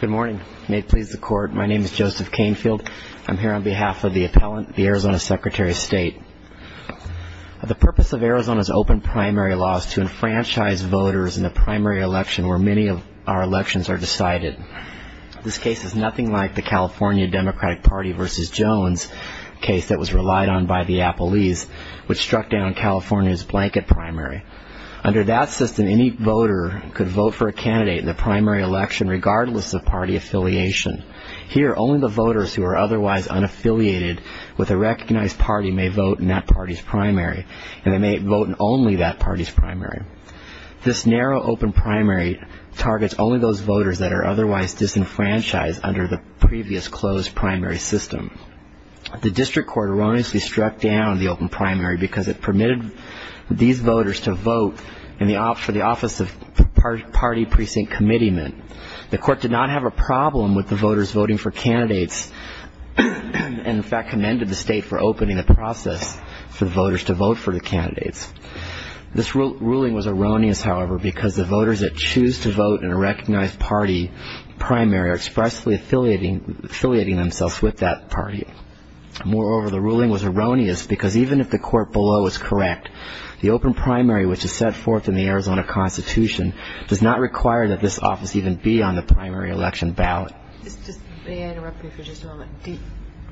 Good morning. May it please the court. My name is Joseph Canfield. I'm here on behalf of the appellant, the Arizona Secretary of State. The purpose of Arizona's open primary law is to enfranchise voters in the primary election where many of our elections are decided. This case is nothing like the California Democratic Party v. Jones case that was relied on by the Appellees, which struck down California's blanket primary. Under that system, any voter could vote for a candidate in the primary election regardless of party affiliation. Here, only the voters who are otherwise unaffiliated with a recognized party may vote in that party's primary, and they may vote in only that party's primary. This narrow open primary targets only those voters that are otherwise disenfranchised under the previous closed primary system. The district court erroneously struck down the open primary because it permitted these voters to vote for the Office of Party Precinct Commitment. The court did not have a problem with the voters voting for candidates, and in fact commended the state for opening the process for voters to vote for the candidates. This ruling was erroneous, however, because the voters that choose to vote in a recognized party primary are expressly affiliating themselves with that party. Moreover, the ruling was erroneous because even if the court below is correct, the open primary which is set forth in the Arizona Constitution does not require that this office even be on the primary election ballot. May I interrupt you for just a moment?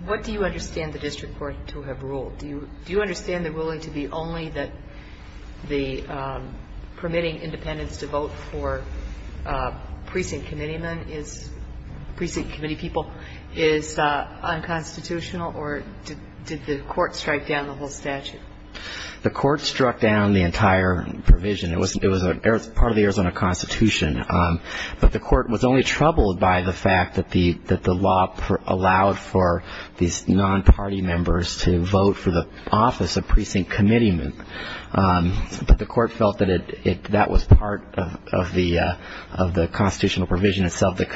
What do you understand the district court to have ruled? Do you understand the ruling to be only that the permitting independents to vote for precinct committeemen is, precinct committee people, is unconstitutional? Or did the court strike down the whole statute? The court struck down the entire provision. It was part of the Arizona Constitution. But the court was only troubled by the fact that the law allowed for these non-party members to vote for the Office of Precinct Committeemen. But the court felt that that was part of the constitutional provision itself that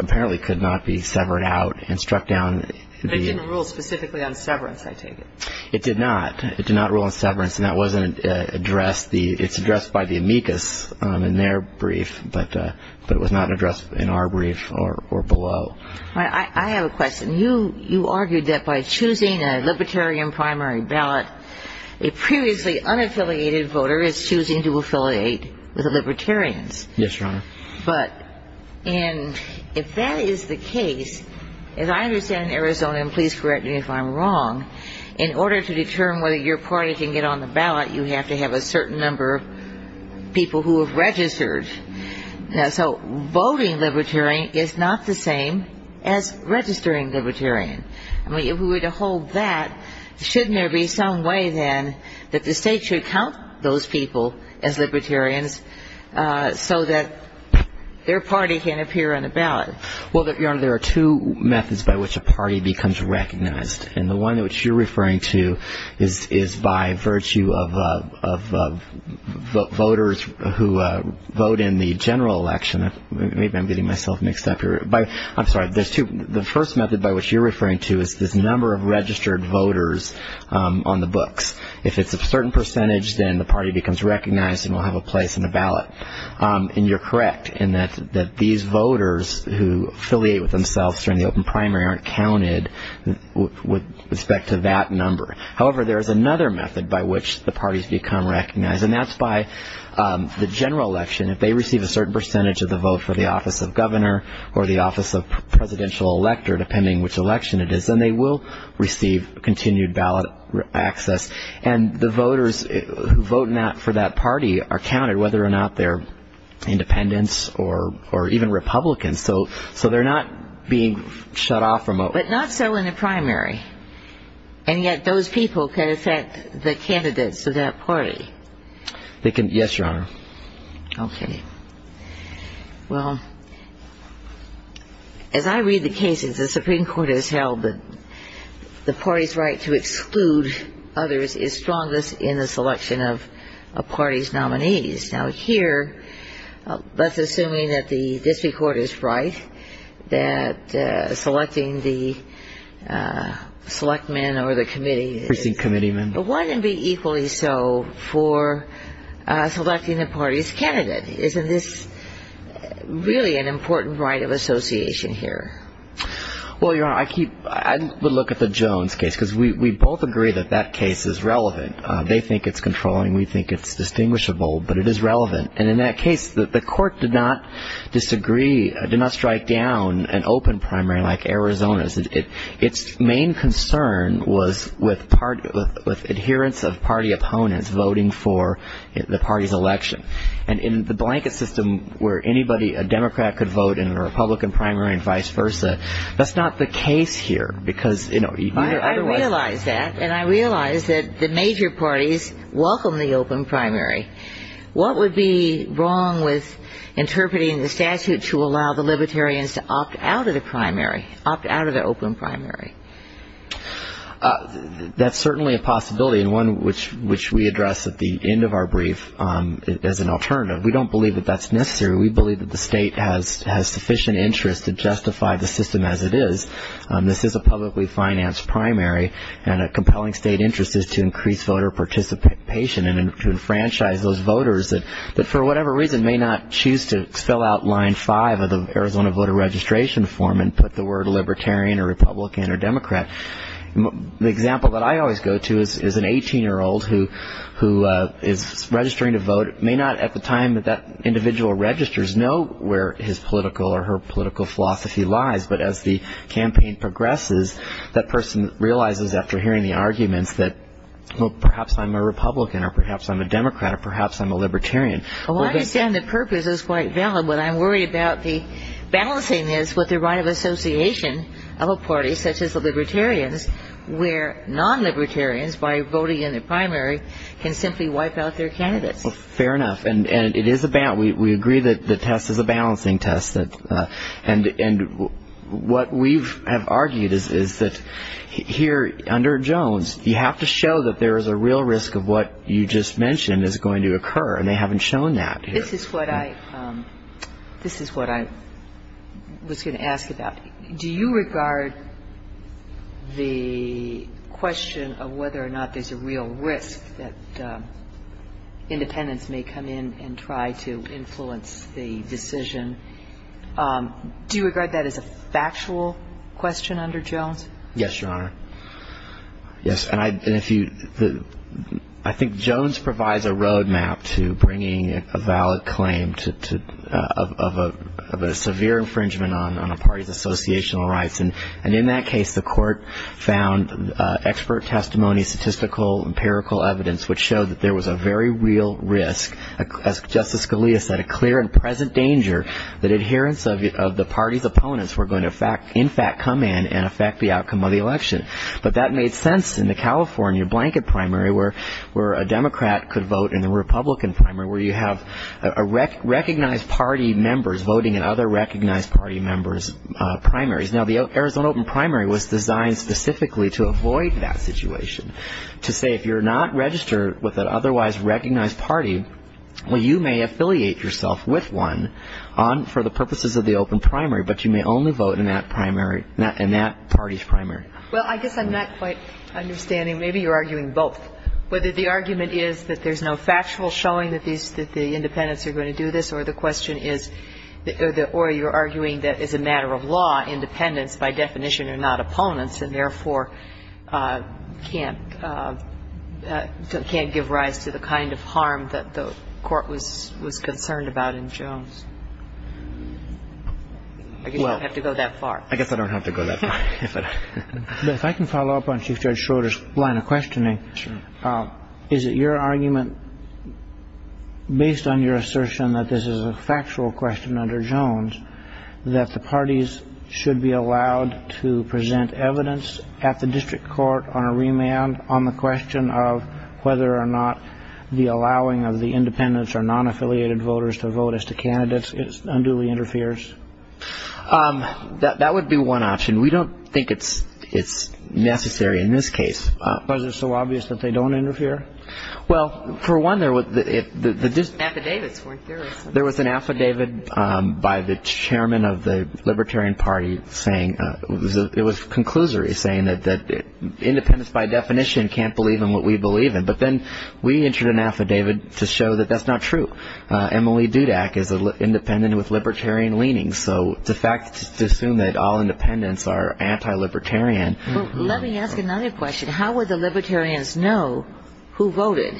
apparently could not be severed out and struck down the ---- But it didn't rule specifically on severance, I take it. It did not. It did not rule on severance. And that wasn't addressed. It's addressed by the amicus in their brief. But it was not addressed in our brief or below. I have a question. You argued that by choosing a libertarian primary ballot, a previously unaffiliated voter is choosing to affiliate with the libertarians. Yes, Your Honor. But in ---- if that is the case, as I understand in Arizona, and please correct me if I'm wrong, in order to determine whether your party can get on the ballot, you have to have a certain number of people who have registered. So voting libertarian is not the same as registering libertarian. I mean, if we were to hold that, shouldn't there be some way then that the State should count those people as libertarians so that their party can appear on the ballot? Well, Your Honor, there are two methods by which a party becomes recognized. And the one which you're referring to is by virtue of voters who vote in the general election. Maybe I'm getting myself mixed up here. I'm sorry. There's two. The first method by which you're referring to is this number of registered voters on the books. If it's a certain percentage, then the party becomes recognized and will have a place on the ballot. And you're correct in that these voters who affiliate with themselves during the open primary aren't counted with respect to that number. However, there is another method by which the parties become recognized, and that's by the general election. If they receive a certain percentage of the vote for the office of governor or the office of presidential elector, depending which election it is, then they will receive continued ballot access. And the voters who vote not for that party are counted, whether or not they're independents or even Republicans. So they're not being shut off from a vote. But not so in the primary. And yet those people can affect the candidates of that party. Yes, Your Honor. Okay. Well, as I read the cases, the Supreme Court has held that the party's right to exclude others is strongest in the selection of a party's nominees. Now, here, let's assume that the district court is right, that selecting the selectmen or the committee. Precinct committeemen. Why then be equally so for selecting the party's candidate? Isn't this really an important right of association here? Well, Your Honor, I keep ‑‑ I look at the Jones case because we both agree that that case is relevant. They think it's controlling. We think it's distinguishable. But it is relevant. And in that case, the court did not disagree, did not strike down an open primary like Arizona's. And its main concern was with adherence of party opponents voting for the party's election. And in the blanket system where anybody, a Democrat, could vote in a Republican primary and vice versa, that's not the case here. Because, you know, either otherwise ‑‑ I realize that. And I realize that the major parties welcome the open primary. What would be wrong with interpreting the statute to allow the libertarians to opt out of the primary, opt out of the open primary? That's certainly a possibility and one which we address at the end of our brief as an alternative. We don't believe that that's necessary. We believe that the state has sufficient interest to justify the system as it is. This is a publicly financed primary. And a compelling state interest is to increase voter participation and to enfranchise those voters that for whatever reason may not choose to fill out line five of the Arizona voter registration form and put the word libertarian or Republican or Democrat. The example that I always go to is an 18‑year‑old who is registering to vote, may not at the time that that individual registers know where his political or her political philosophy lies. But as the campaign progresses, that person realizes after hearing the arguments that, well, perhaps I'm a Republican or perhaps I'm a Democrat or perhaps I'm a libertarian. Well, I understand the purpose is quite valid, but I'm worried about the balancing is with the right of association of a party such as the libertarians where non‑libertarians by voting in the primary can simply wipe out their candidates. Fair enough. And it is a balance. We agree that the test is a balancing test. And what we have argued is that here under Jones, you have to show that there is a real risk of what you just mentioned is going to occur, and they haven't shown that here. This is what I was going to ask about. Do you regard the question of whether or not there's a real risk that independents may come in and try to influence the decision, do you regard that as a factual question under Jones? Yes, Your Honor. Yes. And I think Jones provides a roadmap to bringing a valid claim of a severe infringement on a party's associational rights. And in that case, the court found expert testimony, statistical, empirical evidence, which showed that there was a very real risk, as Justice Scalia said, a clear and present danger that adherence of the party's opponents were going to in fact come in and affect the outcome of the election. But that made sense in the California blanket primary where a Democrat could vote in the Republican primary where you have recognized party members voting in other recognized party members' primaries. Now, the Arizona open primary was designed specifically to avoid that situation, to say if you're not registered with an otherwise recognized party, well, you may affiliate yourself with one for the purposes of the open primary, but you may only vote in that primary, in that party's primary. Well, I guess I'm not quite understanding. Maybe you're arguing both. Whether the argument is that there's no factual showing that the independents are going to do this or the question is or you're arguing that as a matter of law, independents by definition are not opponents and therefore can't give rise to the kind of harm that the court was concerned about in Jones. I guess I don't have to go that far. I guess I don't have to go that far. If I can follow up on Chief Judge Schroeder's line of questioning. Sure. Is it your argument, based on your assertion that this is a factual question under Jones, that the parties should be allowed to present evidence at the district court on a remand on the question of whether or not the allowing of the independents or non-affiliated voters to vote as to candidates unduly interferes? That would be one option. We don't think it's necessary in this case. Because it's so obvious that they don't interfere? Well, for one, there was the district. Affidavits weren't there. There was an affidavit by the chairman of the Libertarian Party saying, it was a conclusory saying that independents by definition can't believe in what we believe in. But then we entered an affidavit to show that that's not true. Emily Dudak is independent with Libertarian leanings. So to assume that all independents are anti-Libertarian. Let me ask another question. How would the Libertarians know who voted?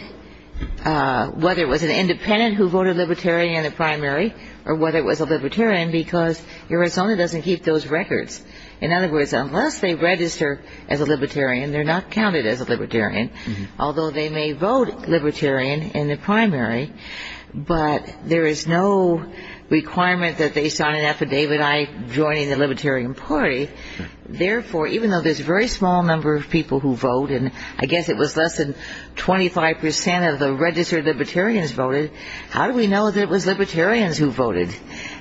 Whether it was an independent who voted Libertarian in the primary or whether it was a Libertarian because Arizona doesn't keep those records. In other words, unless they register as a Libertarian, they're not counted as a Libertarian. Although they may vote Libertarian in the primary, but there is no requirement that they sign an affidavit I joining the Libertarian Party. Therefore, even though there's a very small number of people who vote, and I guess it was less than 25% of the registered Libertarians voted, how do we know that it was Libertarians who voted?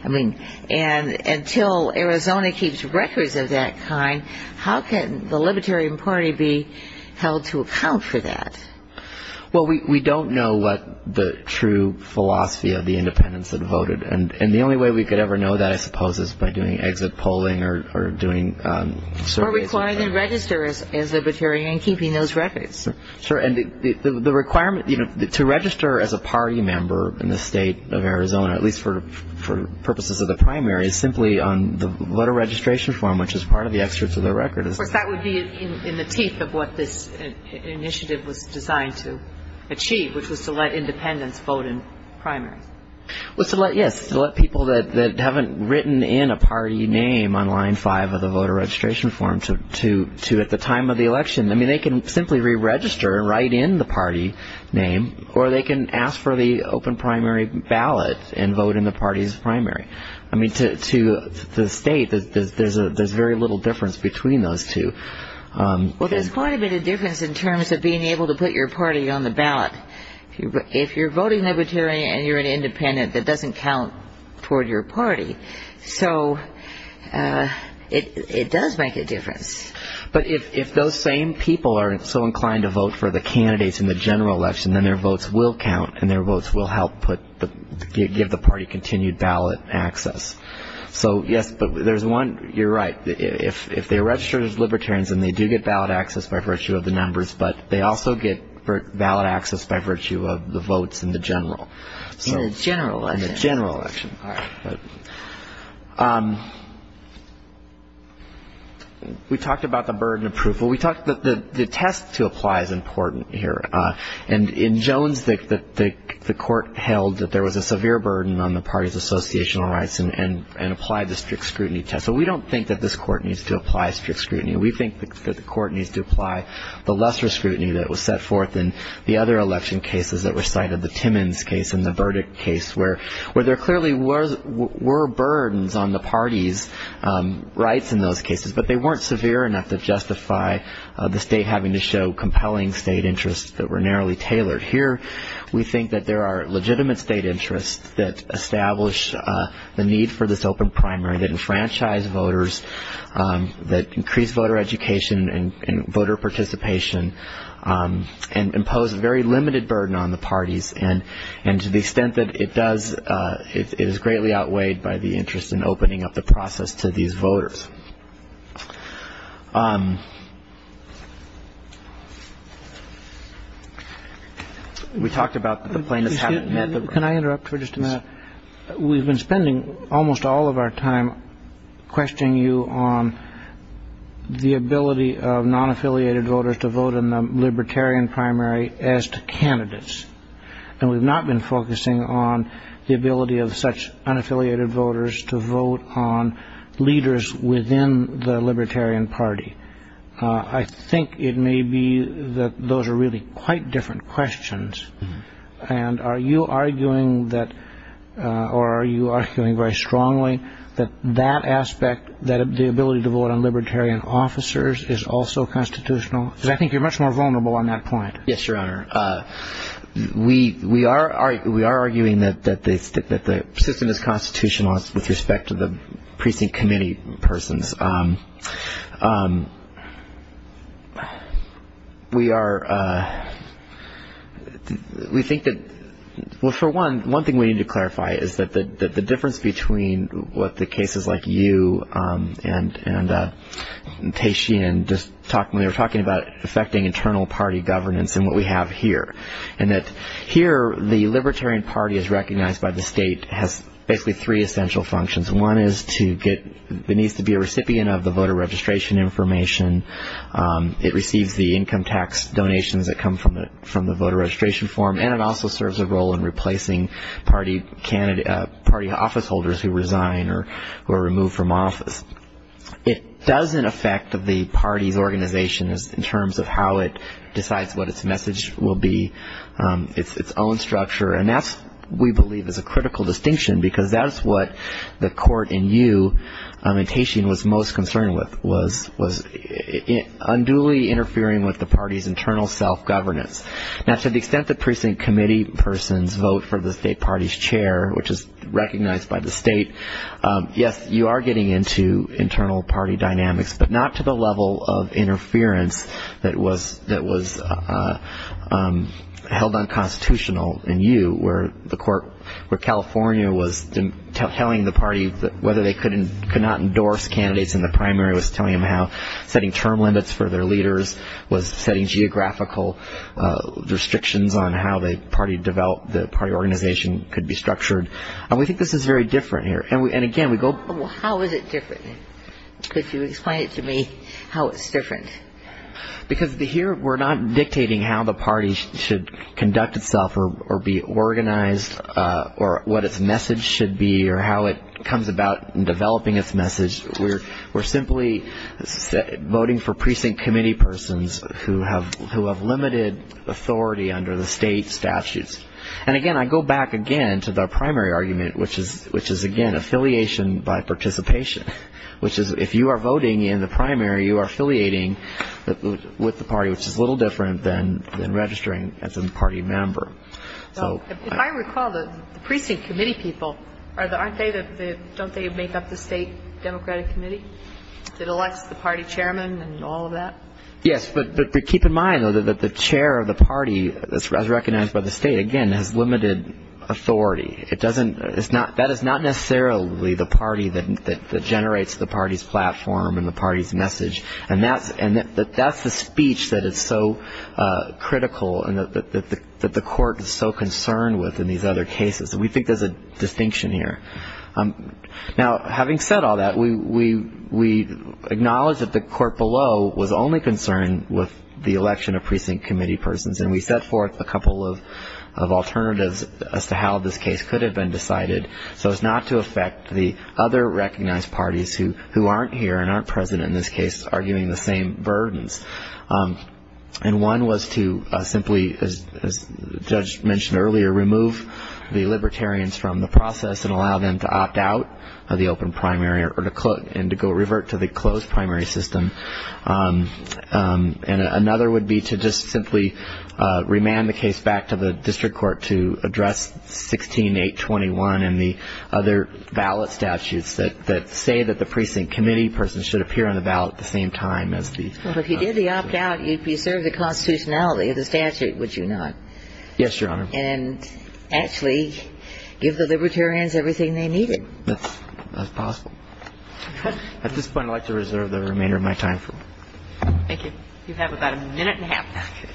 I mean, until Arizona keeps records of that kind, how can the Libertarian Party be held to account for that? Well, we don't know what the true philosophy of the independents that voted. And the only way we could ever know that, I suppose, is by doing exit polling or doing surveys. Or requiring them to register as Libertarian and keeping those records. Sure. And the requirement to register as a party member in the state of Arizona, at least for purposes of the primary, is simply on the voter registration form, which is part of the excerpts of the record. Of course, that would be in the teeth of what this initiative was designed to achieve, which was to let independents vote in primaries. Well, yes, to let people that haven't written in a party name on line five of the voter registration form to at the time of the election. I mean, they can simply re-register and write in the party name, or they can ask for the open primary ballot and vote in the party's primary. I mean, to the state, there's very little difference between those two. Well, there's quite a bit of difference in terms of being able to put your party on the ballot. If you're voting Libertarian and you're an independent, that doesn't count toward your party. So it does make a difference. But if those same people are so inclined to vote for the candidates in the general election, then their votes will count and their votes will help give the party continued ballot access. So, yes, but there's one, you're right, if they register as Libertarians and they do get ballot access by virtue of the numbers, but they also get ballot access by virtue of the votes in the general. In the general election. All right. We talked about the burden of proof. Well, we talked that the test to apply is important here. And in Jones, the court held that there was a severe burden on the party's associational rights and applied the strict scrutiny test. So we don't think that this court needs to apply strict scrutiny. We think that the court needs to apply the lesser scrutiny that was set forth in the other election cases that were cited, the Timmons case and the Burdick case, where there clearly were burdens on the party's rights in those cases, but they weren't severe enough to justify the state having to show compelling state interests that were narrowly tailored. Here we think that there are legitimate state interests that establish the need for this open primary, that enfranchise voters, that increase voter education and voter participation and impose a very limited burden on the parties. And to the extent that it does, it is greatly outweighed by the interest in opening up the process to these voters. We talked about the plaintiffs having met the. Can I interrupt for just a minute? We've been spending almost all of our time questioning you on the ability of non-affiliated voters to vote in the libertarian primary as to candidates. And we've not been focusing on the ability of such unaffiliated voters to vote on leaders within the libertarian party. I think it may be that those are really quite different questions. And are you arguing that or are you arguing very strongly that that aspect, that the ability to vote on libertarian officers is also constitutional? Because I think you're much more vulnerable on that point. Yes, Your Honor. We are arguing that the system is constitutional with respect to the precinct committee persons. We are – we think that – well, for one, one thing we need to clarify is that the difference between what the cases like you and Tehseen just talked – when they were talking about affecting internal party governance and what we have here, and that here the libertarian party is recognized by the state has basically three essential functions. One is to get – it needs to be a recipient of the voter registration information. It receives the income tax donations that come from the voter registration form. And it also serves a role in replacing party officeholders who resign or who are removed from office. It doesn't affect the party's organization in terms of how it decides what its message will be, its own structure. And that, we believe, is a critical distinction because that is what the court in you and Tehseen was most concerned with, was unduly interfering with the party's internal self-governance. Now, to the extent the precinct committee persons vote for the state party's chair, which is recognized by the state, yes, you are getting into internal party dynamics, but not to the level of interference that was held unconstitutional in you, where the court – where California was telling the party whether they could not endorse candidates in the primary, was telling them how setting term limits for their leaders, was setting geographical restrictions on how the party organization could be structured. And we think this is very different here. And, again, we go – Well, how is it different? Could you explain it to me how it's different? Because here we're not dictating how the party should conduct itself or be organized or what its message should be or how it comes about in developing its message. We're simply voting for precinct committee persons who have limited authority under the state statutes. And, again, I go back again to the primary argument, which is, again, affiliation by participation, which is if you are voting in the primary, you are affiliating with the party, which is a little different than registering as a party member. If I recall, the precinct committee people, aren't they the – don't they make up the state democratic committee that elects the party chairman and all of that? Yes, but keep in mind, though, that the chair of the party, as recognized by the state, again, has limited authority. It doesn't – that is not necessarily the party that generates the party's platform and the party's message. And that's the speech that is so critical and that the court is so concerned with in these other cases. We think there's a distinction here. Now, having said all that, we acknowledge that the court below was only concerned with the election of precinct committee persons, and we set forth a couple of alternatives as to how this case could have been decided so as not to affect the other recognized parties who aren't here and aren't present in this case, arguing the same burdens. And one was to simply, as the judge mentioned earlier, remove the libertarians from the process and allow them to opt out of the open primary and to revert to the closed primary system. And another would be to just simply remand the case back to the district court to address 16.821 and the other ballot statutes that say that the precinct committee person should appear on the ballot at the same time as the – Well, if you did the opt out, you'd preserve the constitutionality of the statute, would you not? Yes, Your Honor. And actually give the libertarians everything they needed. That's possible. At this point, I'd like to reserve the remainder of my time for you. Thank you. You have about a minute and a half.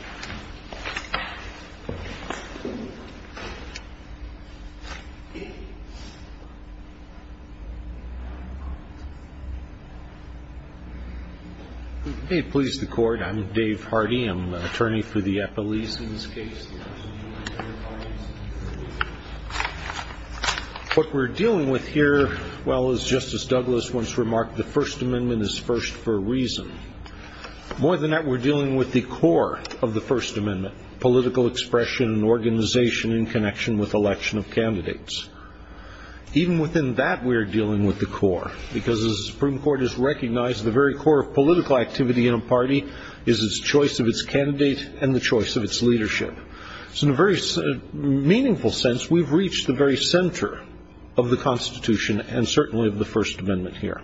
May it please the Court. I'm Dave Hardy. I'm an attorney for the Epelese in this case. What we're dealing with here, well, as Justice Douglas once remarked, the First Amendment is first for a reason. More than that, we're dealing with the core of the First Amendment, political expression and organization in connection with election of candidates. Even within that, we're dealing with the core, because the Supreme Court has recognized the very core of political activity in a party is its choice of its candidate and the choice of its leadership. So in a very meaningful sense, we've reached the very center of the Constitution and certainly of the First Amendment here.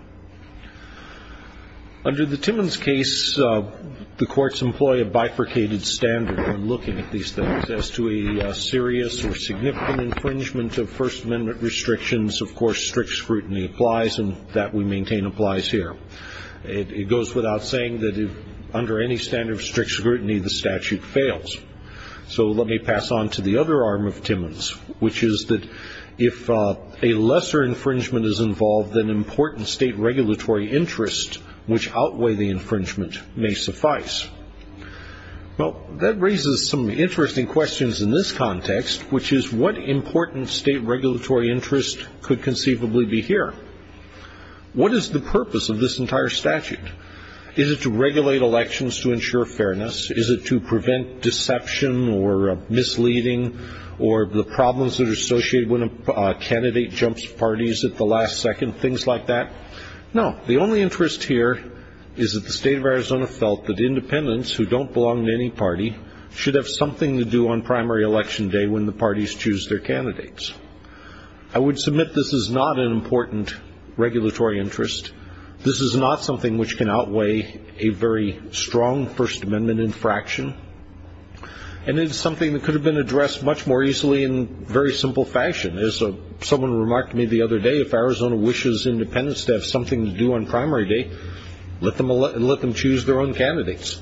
Under the Timmons case, the courts employ a bifurcated standard when looking at these things. As to a serious or significant infringement of First Amendment restrictions, of course, strict scrutiny applies, and that we maintain applies here. It goes without saying that under any standard of strict scrutiny, the statute fails. So let me pass on to the other arm of Timmons, which is that if a lesser infringement is involved, then important state regulatory interest which outweigh the infringement may suffice. Well, that raises some interesting questions in this context, which is what important state regulatory interest could conceivably be here? What is the purpose of this entire statute? Is it to regulate elections to ensure fairness? Is it to prevent deception or misleading or the problems that are associated when a candidate jumps parties at the last second, things like that? No, the only interest here is that the state of Arizona felt that independents who don't belong to any party should have something to do on primary election day when the parties choose their candidates. I would submit this is not an important regulatory interest. This is not something which can outweigh a very strong First Amendment infraction, and it is something that could have been addressed much more easily in very simple fashion. As someone remarked to me the other day, if Arizona wishes independents to have something to do on primary day, let them choose their own candidates.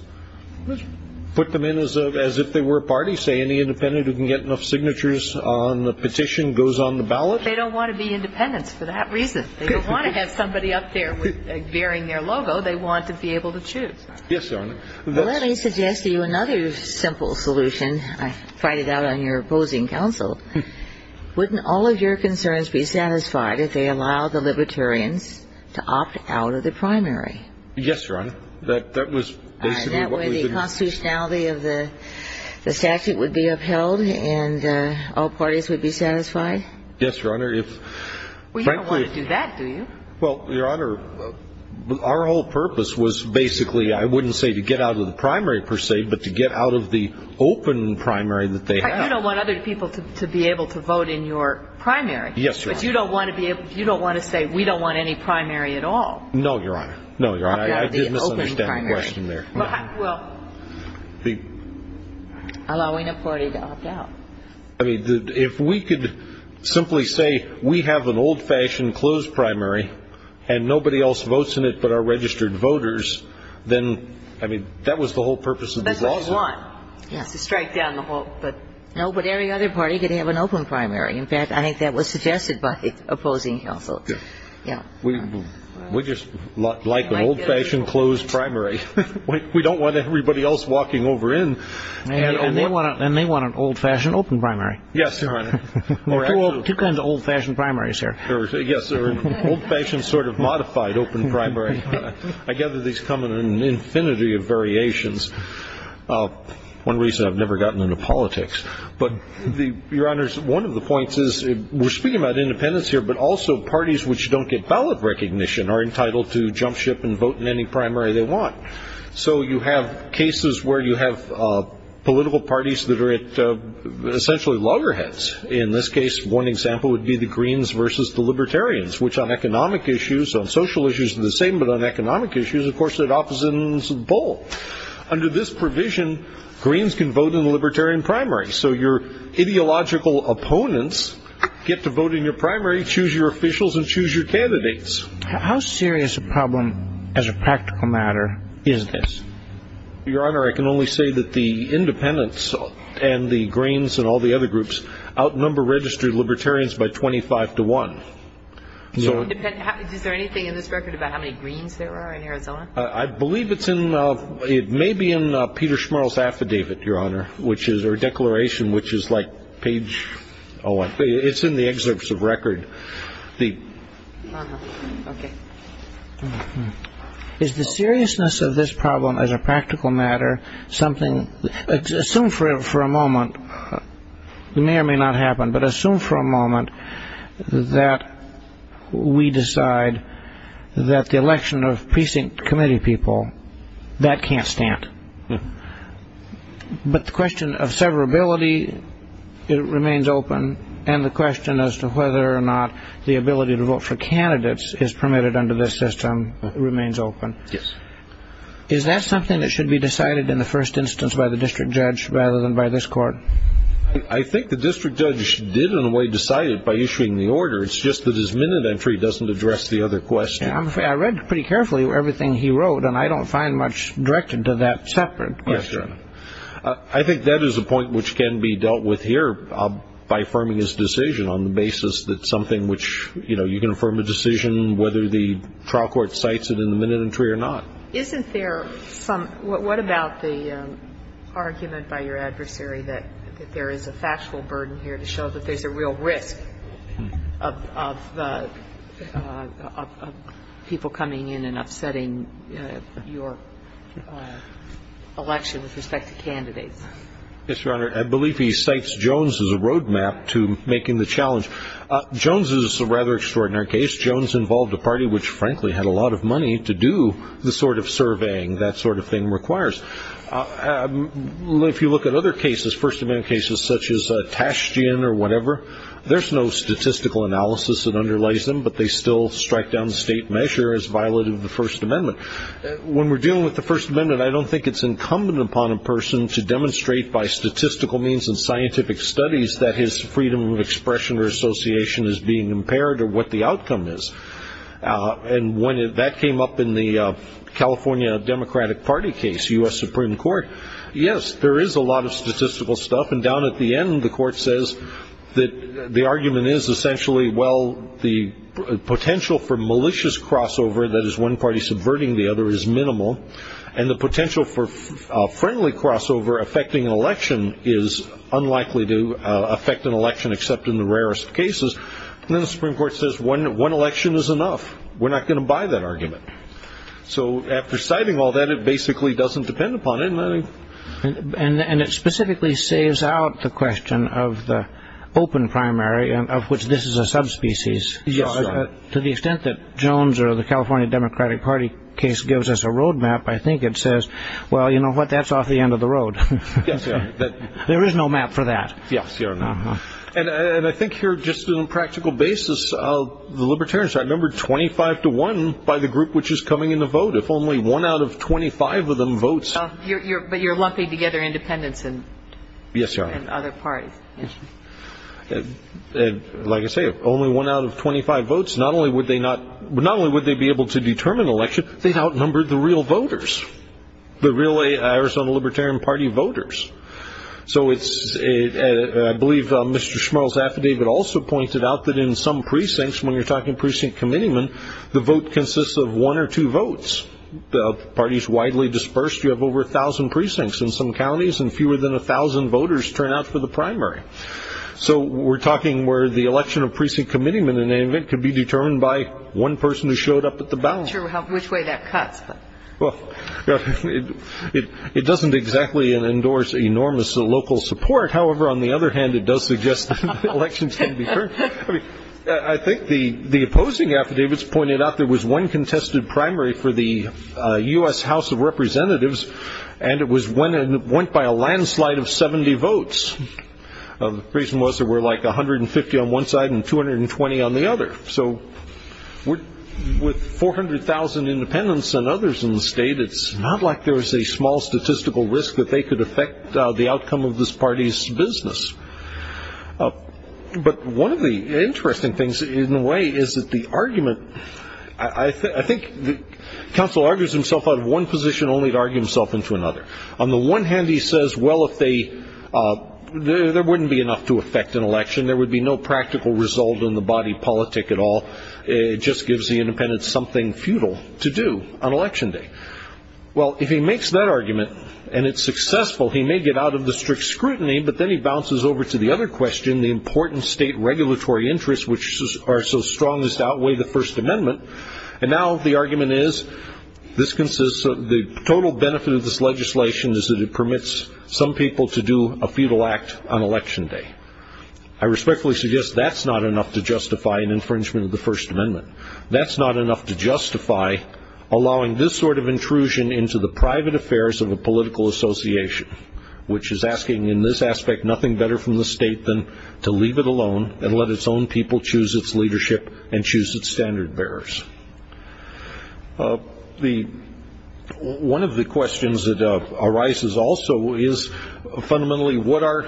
Put them in as if they were a party, say, any independent who can get enough signatures on the petition goes on the ballot. They don't want to be independents for that reason. They don't want to have somebody up there bearing their logo. They want to be able to choose. Yes, Your Honor. Let me suggest to you another simple solution. I find it out on your opposing counsel. Wouldn't all of your concerns be satisfied if they allowed the Libertarians to opt out of the primary? Yes, Your Honor. That was basically what we did. That way the constitutionality of the statute would be upheld and all parties would be satisfied? Yes, Your Honor. Well, you don't want to do that, do you? Well, Your Honor, our whole purpose was basically, I wouldn't say to get out of the primary per se, but to get out of the open primary that they have. You don't want other people to be able to vote in your primary. Yes, Your Honor. But you don't want to say we don't want any primary at all. No, Your Honor. No, Your Honor. I did misunderstand the question there. Well, allowing a party to opt out. I mean, if we could simply say we have an old-fashioned closed primary and nobody else votes in it but our registered voters, then, I mean, that was the whole purpose of the lawsuit. That's what you want, is to strike down the whole, but. No, but every other party could have an open primary. In fact, I think that was suggested by opposing counsel. Yeah. Yeah. We just like an old-fashioned closed primary. We don't want everybody else walking over in. And they want an old-fashioned open primary. Yes, Your Honor. Two kinds of old-fashioned primaries here. Yes, sir. Old-fashioned sort of modified open primary. I gather these come in an infinity of variations. One reason I've never gotten into politics. But, Your Honors, one of the points is we're speaking about independence here, but also parties which don't get ballot recognition are entitled to jump ship and vote in any primary they want. So you have cases where you have political parties that are essentially loggerheads. In this case, one example would be the Greens versus the Libertarians, which on economic issues, on social issues are the same, but on economic issues, of course, they're opposites in the bowl. Under this provision, Greens can vote in the Libertarian primary. So your ideological opponents get to vote in your primary, choose your officials, and choose your candidates. How serious a problem, as a practical matter, is this? Your Honor, I can only say that the Independents and the Greens and all the other groups outnumber registered Libertarians by 25 to 1. Is there anything in this record about how many Greens there are in Arizona? I believe it may be in Peter Schmarl's affidavit, Your Honor, or declaration, which is like page 01. It's in the excerpts of record. Uh-huh. Okay. Is the seriousness of this problem, as a practical matter, something... Assume for a moment, it may or may not happen, but assume for a moment that we decide that the election of precinct committee people, that can't stand. But the question of severability, it remains open, and the question as to whether or not the ability to vote for candidates is permitted under this system remains open. Yes. Is that something that should be decided in the first instance by the district judge rather than by this court? I think the district judge did, in a way, decide it by issuing the order. It's just that his minute entry doesn't address the other question. I read pretty carefully everything he wrote, and I don't find much directed to that separate question. Yes, Your Honor. I think that is a point which can be dealt with here by affirming his decision on the basis that something which, you know, you can affirm a decision whether the trial court cites it in the minute entry or not. Isn't there some – what about the argument by your adversary that there is a factual burden here to show that there's a real risk of people coming in and upsetting your election with respect to candidates? Yes, Your Honor. I believe he cites Jones as a roadmap to making the challenge. Jones is a rather extraordinary case. Jones involved a party which, frankly, had a lot of money to do the sort of surveying that sort of thing requires. If you look at other cases, First Amendment cases such as Tashtian or whatever, there's no statistical analysis that underlies them, but they still strike down the state measure as violative of the First Amendment. When we're dealing with the First Amendment, I don't think it's incumbent upon a person to demonstrate by statistical means and scientific studies that his freedom of expression or association is being impaired or what the outcome is. And when that came up in the California Democratic Party case, U.S. Supreme Court, yes, there is a lot of statistical stuff, but up and down at the end, the Court says that the argument is essentially, well, the potential for malicious crossover, that is, one party subverting the other, is minimal, and the potential for friendly crossover affecting an election is unlikely to affect an election except in the rarest cases. And then the Supreme Court says one election is enough. We're not going to buy that argument. So after citing all that, it basically doesn't depend upon it. And it specifically saves out the question of the open primary of which this is a subspecies. To the extent that Jones or the California Democratic Party case gives us a road map, I think it says, well, you know what, that's off the end of the road. There is no map for that. And I think here, just on a practical basis, the Libertarians are numbered 25 to 1 by the group which is coming in to vote. If only one out of 25 of them votes. But you're lumping together independents and other parties. Yes, Your Honor. Like I say, if only one out of 25 votes, not only would they be able to determine an election, they'd outnumber the real voters, the real Arizona Libertarian Party voters. So I believe Mr. Schmurl's affidavit also pointed out that in some precincts, when you're talking precinct committeemen, the vote consists of one or two votes. The party is widely dispersed. You have over 1,000 precincts in some counties, and fewer than 1,000 voters turn out for the primary. So we're talking where the election of precinct committeemen, in any event, could be determined by one person who showed up at the ballot. I'm not sure which way that cuts. Well, it doesn't exactly endorse enormous local support. However, on the other hand, it does suggest that elections can be turned. I think the opposing affidavits pointed out there was one contested primary for the U.S. House of Representatives, and it went by a landslide of 70 votes. The reason was there were like 150 on one side and 220 on the other. So with 400,000 independents and others in the state, it's not like there was a small statistical risk that they could affect the outcome of this party's business. But one of the interesting things, in a way, is that the argument, I think the counsel argues himself out of one position only to argue himself into another. On the one hand, he says, well, there wouldn't be enough to affect an election. There would be no practical result in the body politic at all. It just gives the independents something futile to do on Election Day. Well, if he makes that argument and it's successful, he may get out of the strict scrutiny, but then he bounces over to the other question, the important state regulatory interests, which are so strong as to outweigh the First Amendment. And now the argument is this consists of the total benefit of this legislation is that it permits some people to do a futile act on Election Day. I respectfully suggest that's not enough to justify an infringement of the First Amendment. That's not enough to justify allowing this sort of intrusion into the private affairs of a political association, which is asking in this aspect nothing better from the state than to leave it alone and let its own people choose its leadership and choose its standard bearers. One of the questions that arises also is fundamentally, what are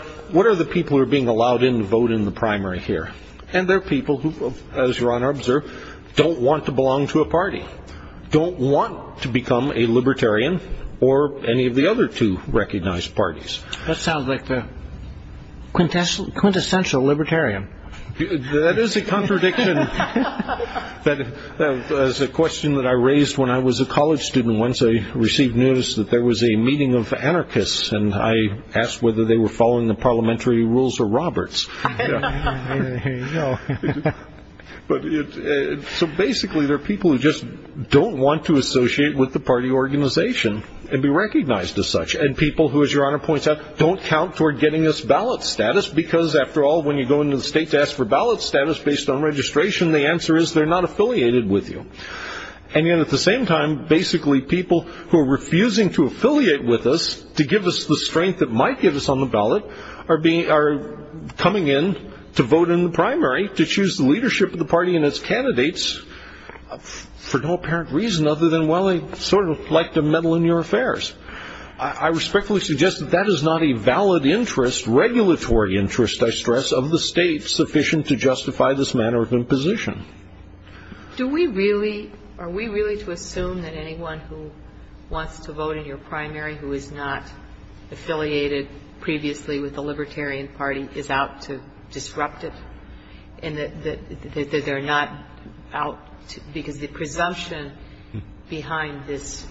the people who are being allowed in to vote in the primary here? And they're people who, as you're on our observe, don't want to belong to a party, don't want to become a libertarian or any of the other two recognized parties. That sounds like the quintessential libertarian. That is a contradiction. That is a question that I raised when I was a college student. Once I received news that there was a meeting of anarchists, and I asked whether they were following the parliamentary rules or Roberts. Here you go. So basically there are people who just don't want to associate with the party organization and be recognized as such. And people who, as Your Honor points out, don't count toward getting us ballot status because, after all, when you go into the state to ask for ballot status based on registration, the answer is they're not affiliated with you. And yet at the same time, basically people who are refusing to affiliate with us to give us the strength that might give us on the ballot are coming in to vote in the primary to choose the leadership of the party and its candidates for no apparent reason other than, well, they sort of like to meddle in your affairs. I respectfully suggest that that is not a valid interest, regulatory interest, I stress, of the state sufficient to justify this manner of imposition. Are we really to assume that anyone who wants to vote in your primary who is not affiliated previously with the Libertarian Party is out to disrupt it and that they're not out because the presumption behind this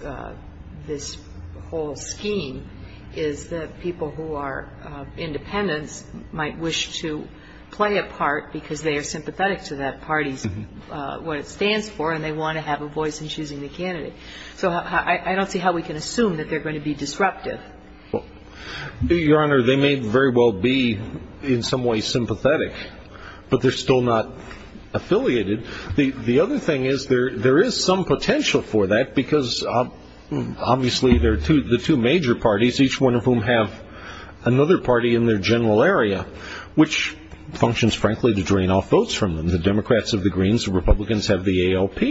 whole scheme is that people who are independents might wish to play a part because they are sympathetic to that party's what it stands for and they want to have a voice in choosing the candidate? So I don't see how we can assume that they're going to be disruptive. Your Honor, they may very well be in some way sympathetic, but they're still not affiliated. The other thing is there is some potential for that because obviously the two major parties, each one of whom have another party in their general area, which functions frankly to drain off votes from them. The Democrats have the Greens, the Republicans have the ALP.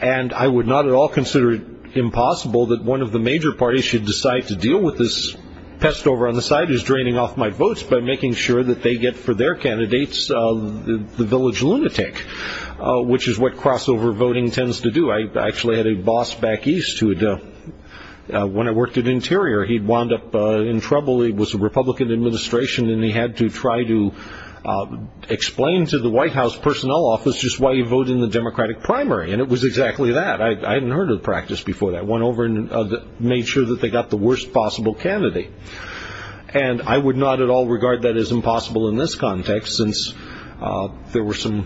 And I would not at all consider it impossible that one of the major parties should decide to deal with this pest over on the side who's draining off my votes by making sure that they get for their candidates the village lunatic, which is what crossover voting tends to do. I actually had a boss back east who, when I worked at Interior, he'd wound up in trouble. He was a Republican administration and he had to try to explain to the White House personnel office that that's just why you vote in the Democratic primary. And it was exactly that. I hadn't heard of the practice before that. It went over and made sure that they got the worst possible candidate. And I would not at all regard that as impossible in this context since there were some,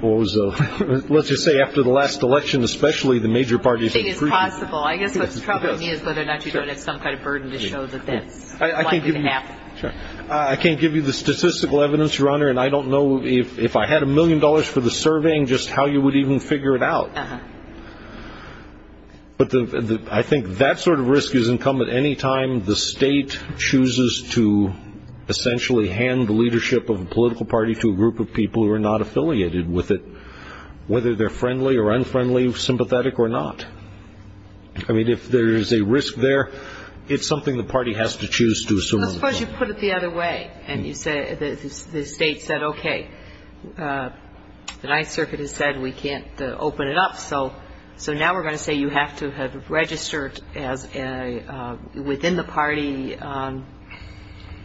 what was it, let's just say after the last election, especially the major parties. I guess what's troubling me is whether or not you don't have some kind of burden to show that that's likely to happen. I can't give you the statistical evidence, Your Honor, and I don't know if I had a million dollars for the surveying just how you would even figure it out. But I think that sort of risk is incumbent any time the state chooses to essentially hand the leadership of a political party to a group of people who are not affiliated with it, whether they're friendly or unfriendly, sympathetic or not. I mean, if there is a risk there, it's something the party has to choose to assume. Well, suppose you put it the other way and the state said, okay, the Ninth Circuit has said we can't open it up, so now we're going to say you have to have registered within the party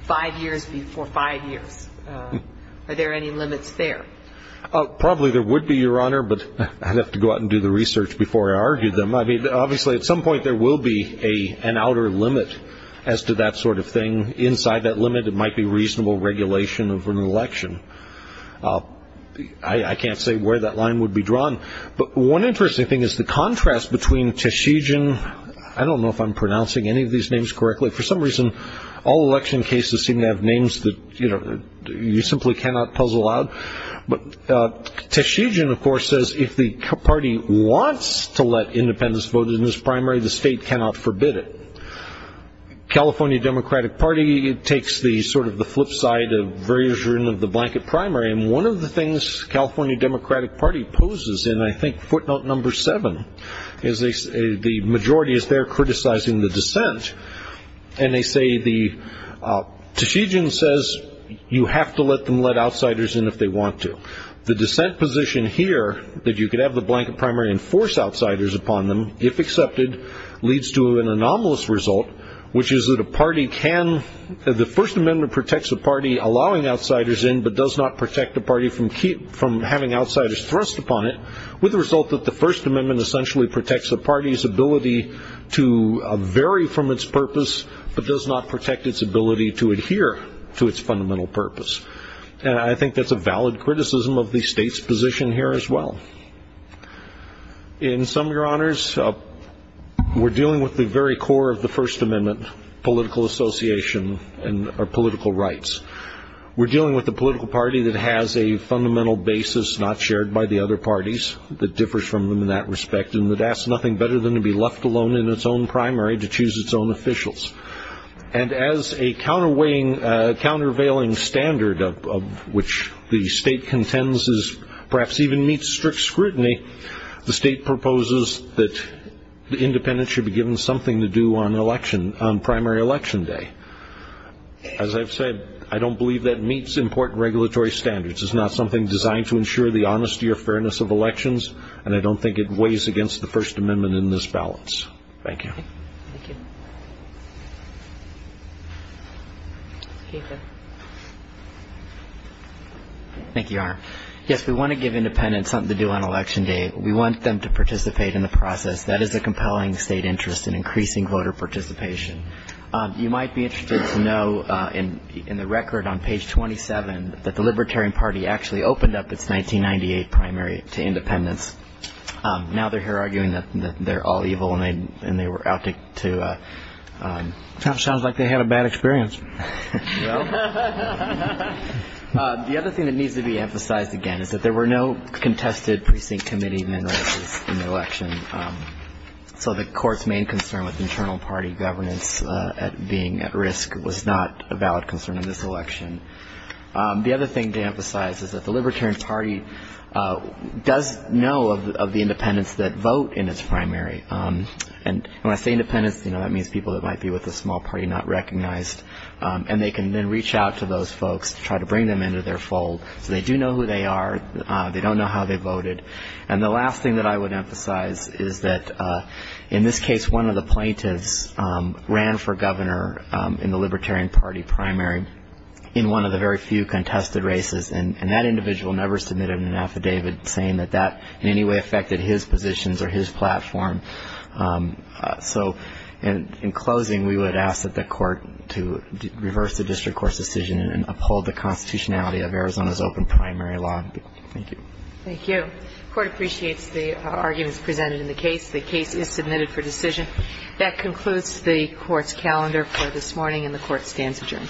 five years before five years. Are there any limits there? Probably there would be, Your Honor, but I'd have to go out and do the research before I argued them. Well, I mean, obviously at some point there will be an outer limit as to that sort of thing. Inside that limit, it might be reasonable regulation of an election. I can't say where that line would be drawn. But one interesting thing is the contrast between Tashijin. I don't know if I'm pronouncing any of these names correctly. For some reason, all election cases seem to have names that you simply cannot puzzle out. But Tashijin, of course, says if the party wants to let independents vote in this primary, the state cannot forbid it. The California Democratic Party takes sort of the flip side of the blanket primary, and one of the things the California Democratic Party poses in, I think, footnote number seven, is the majority is there criticizing the dissent. Tashijin says you have to let them let outsiders in if they want to. The dissent position here, that you could have the blanket primary and force outsiders upon them, if accepted, leads to an anomalous result, which is that the First Amendment protects the party allowing outsiders in but does not protect the party from having outsiders thrust upon it, with the result that the First Amendment essentially protects a party's ability to vary from its purpose but does not protect its ability to adhere to its fundamental purpose. And I think that's a valid criticism of the state's position here as well. In sum, Your Honors, we're dealing with the very core of the First Amendment, political association or political rights. We're dealing with a political party that has a fundamental basis not shared by the other parties, that differs from them in that respect, and that asks nothing better than to be left alone in its own primary to choose its own officials. And as a countervailing standard of which the state contends is perhaps even meets strict scrutiny, the state proposes that the independents should be given something to do on primary election day. As I've said, I don't believe that meets important regulatory standards. It's not something designed to ensure the honesty or fairness of elections, and I don't think it weighs against the First Amendment in this balance. Thank you. Thank you. Thank you, Your Honor. Yes, we want to give independents something to do on election day. We want them to participate in the process. That is a compelling state interest in increasing voter participation. You might be interested to know in the record on page 27 that the Libertarian Party actually opened up its 1998 primary to independents. Now they're here arguing that they're all evil and they were out to- Sounds like they had a bad experience. The other thing that needs to be emphasized, again, is that there were no contested precinct committee men races in the election, so the Court's main concern with internal party governance being at risk was not a valid concern in this election. The other thing to emphasize is that the Libertarian Party does know of the independents that vote in its primary. And when I say independents, that means people that might be with a small party not recognized, and they can then reach out to those folks to try to bring them into their fold. So they do know who they are. They don't know how they voted. And the last thing that I would emphasize is that in this case, one of the plaintiffs ran for governor in the Libertarian Party primary in one of the very few contested races, and that individual never submitted an affidavit saying that that in any way affected his positions or his platform. So in closing, we would ask that the Court to reverse the district court's decision and uphold the constitutionality of Arizona's open primary law. Thank you. Thank you. The Court appreciates the arguments presented in the case. The case is submitted for decision. That concludes the Court's calendar for this morning, and the Court stands adjourned.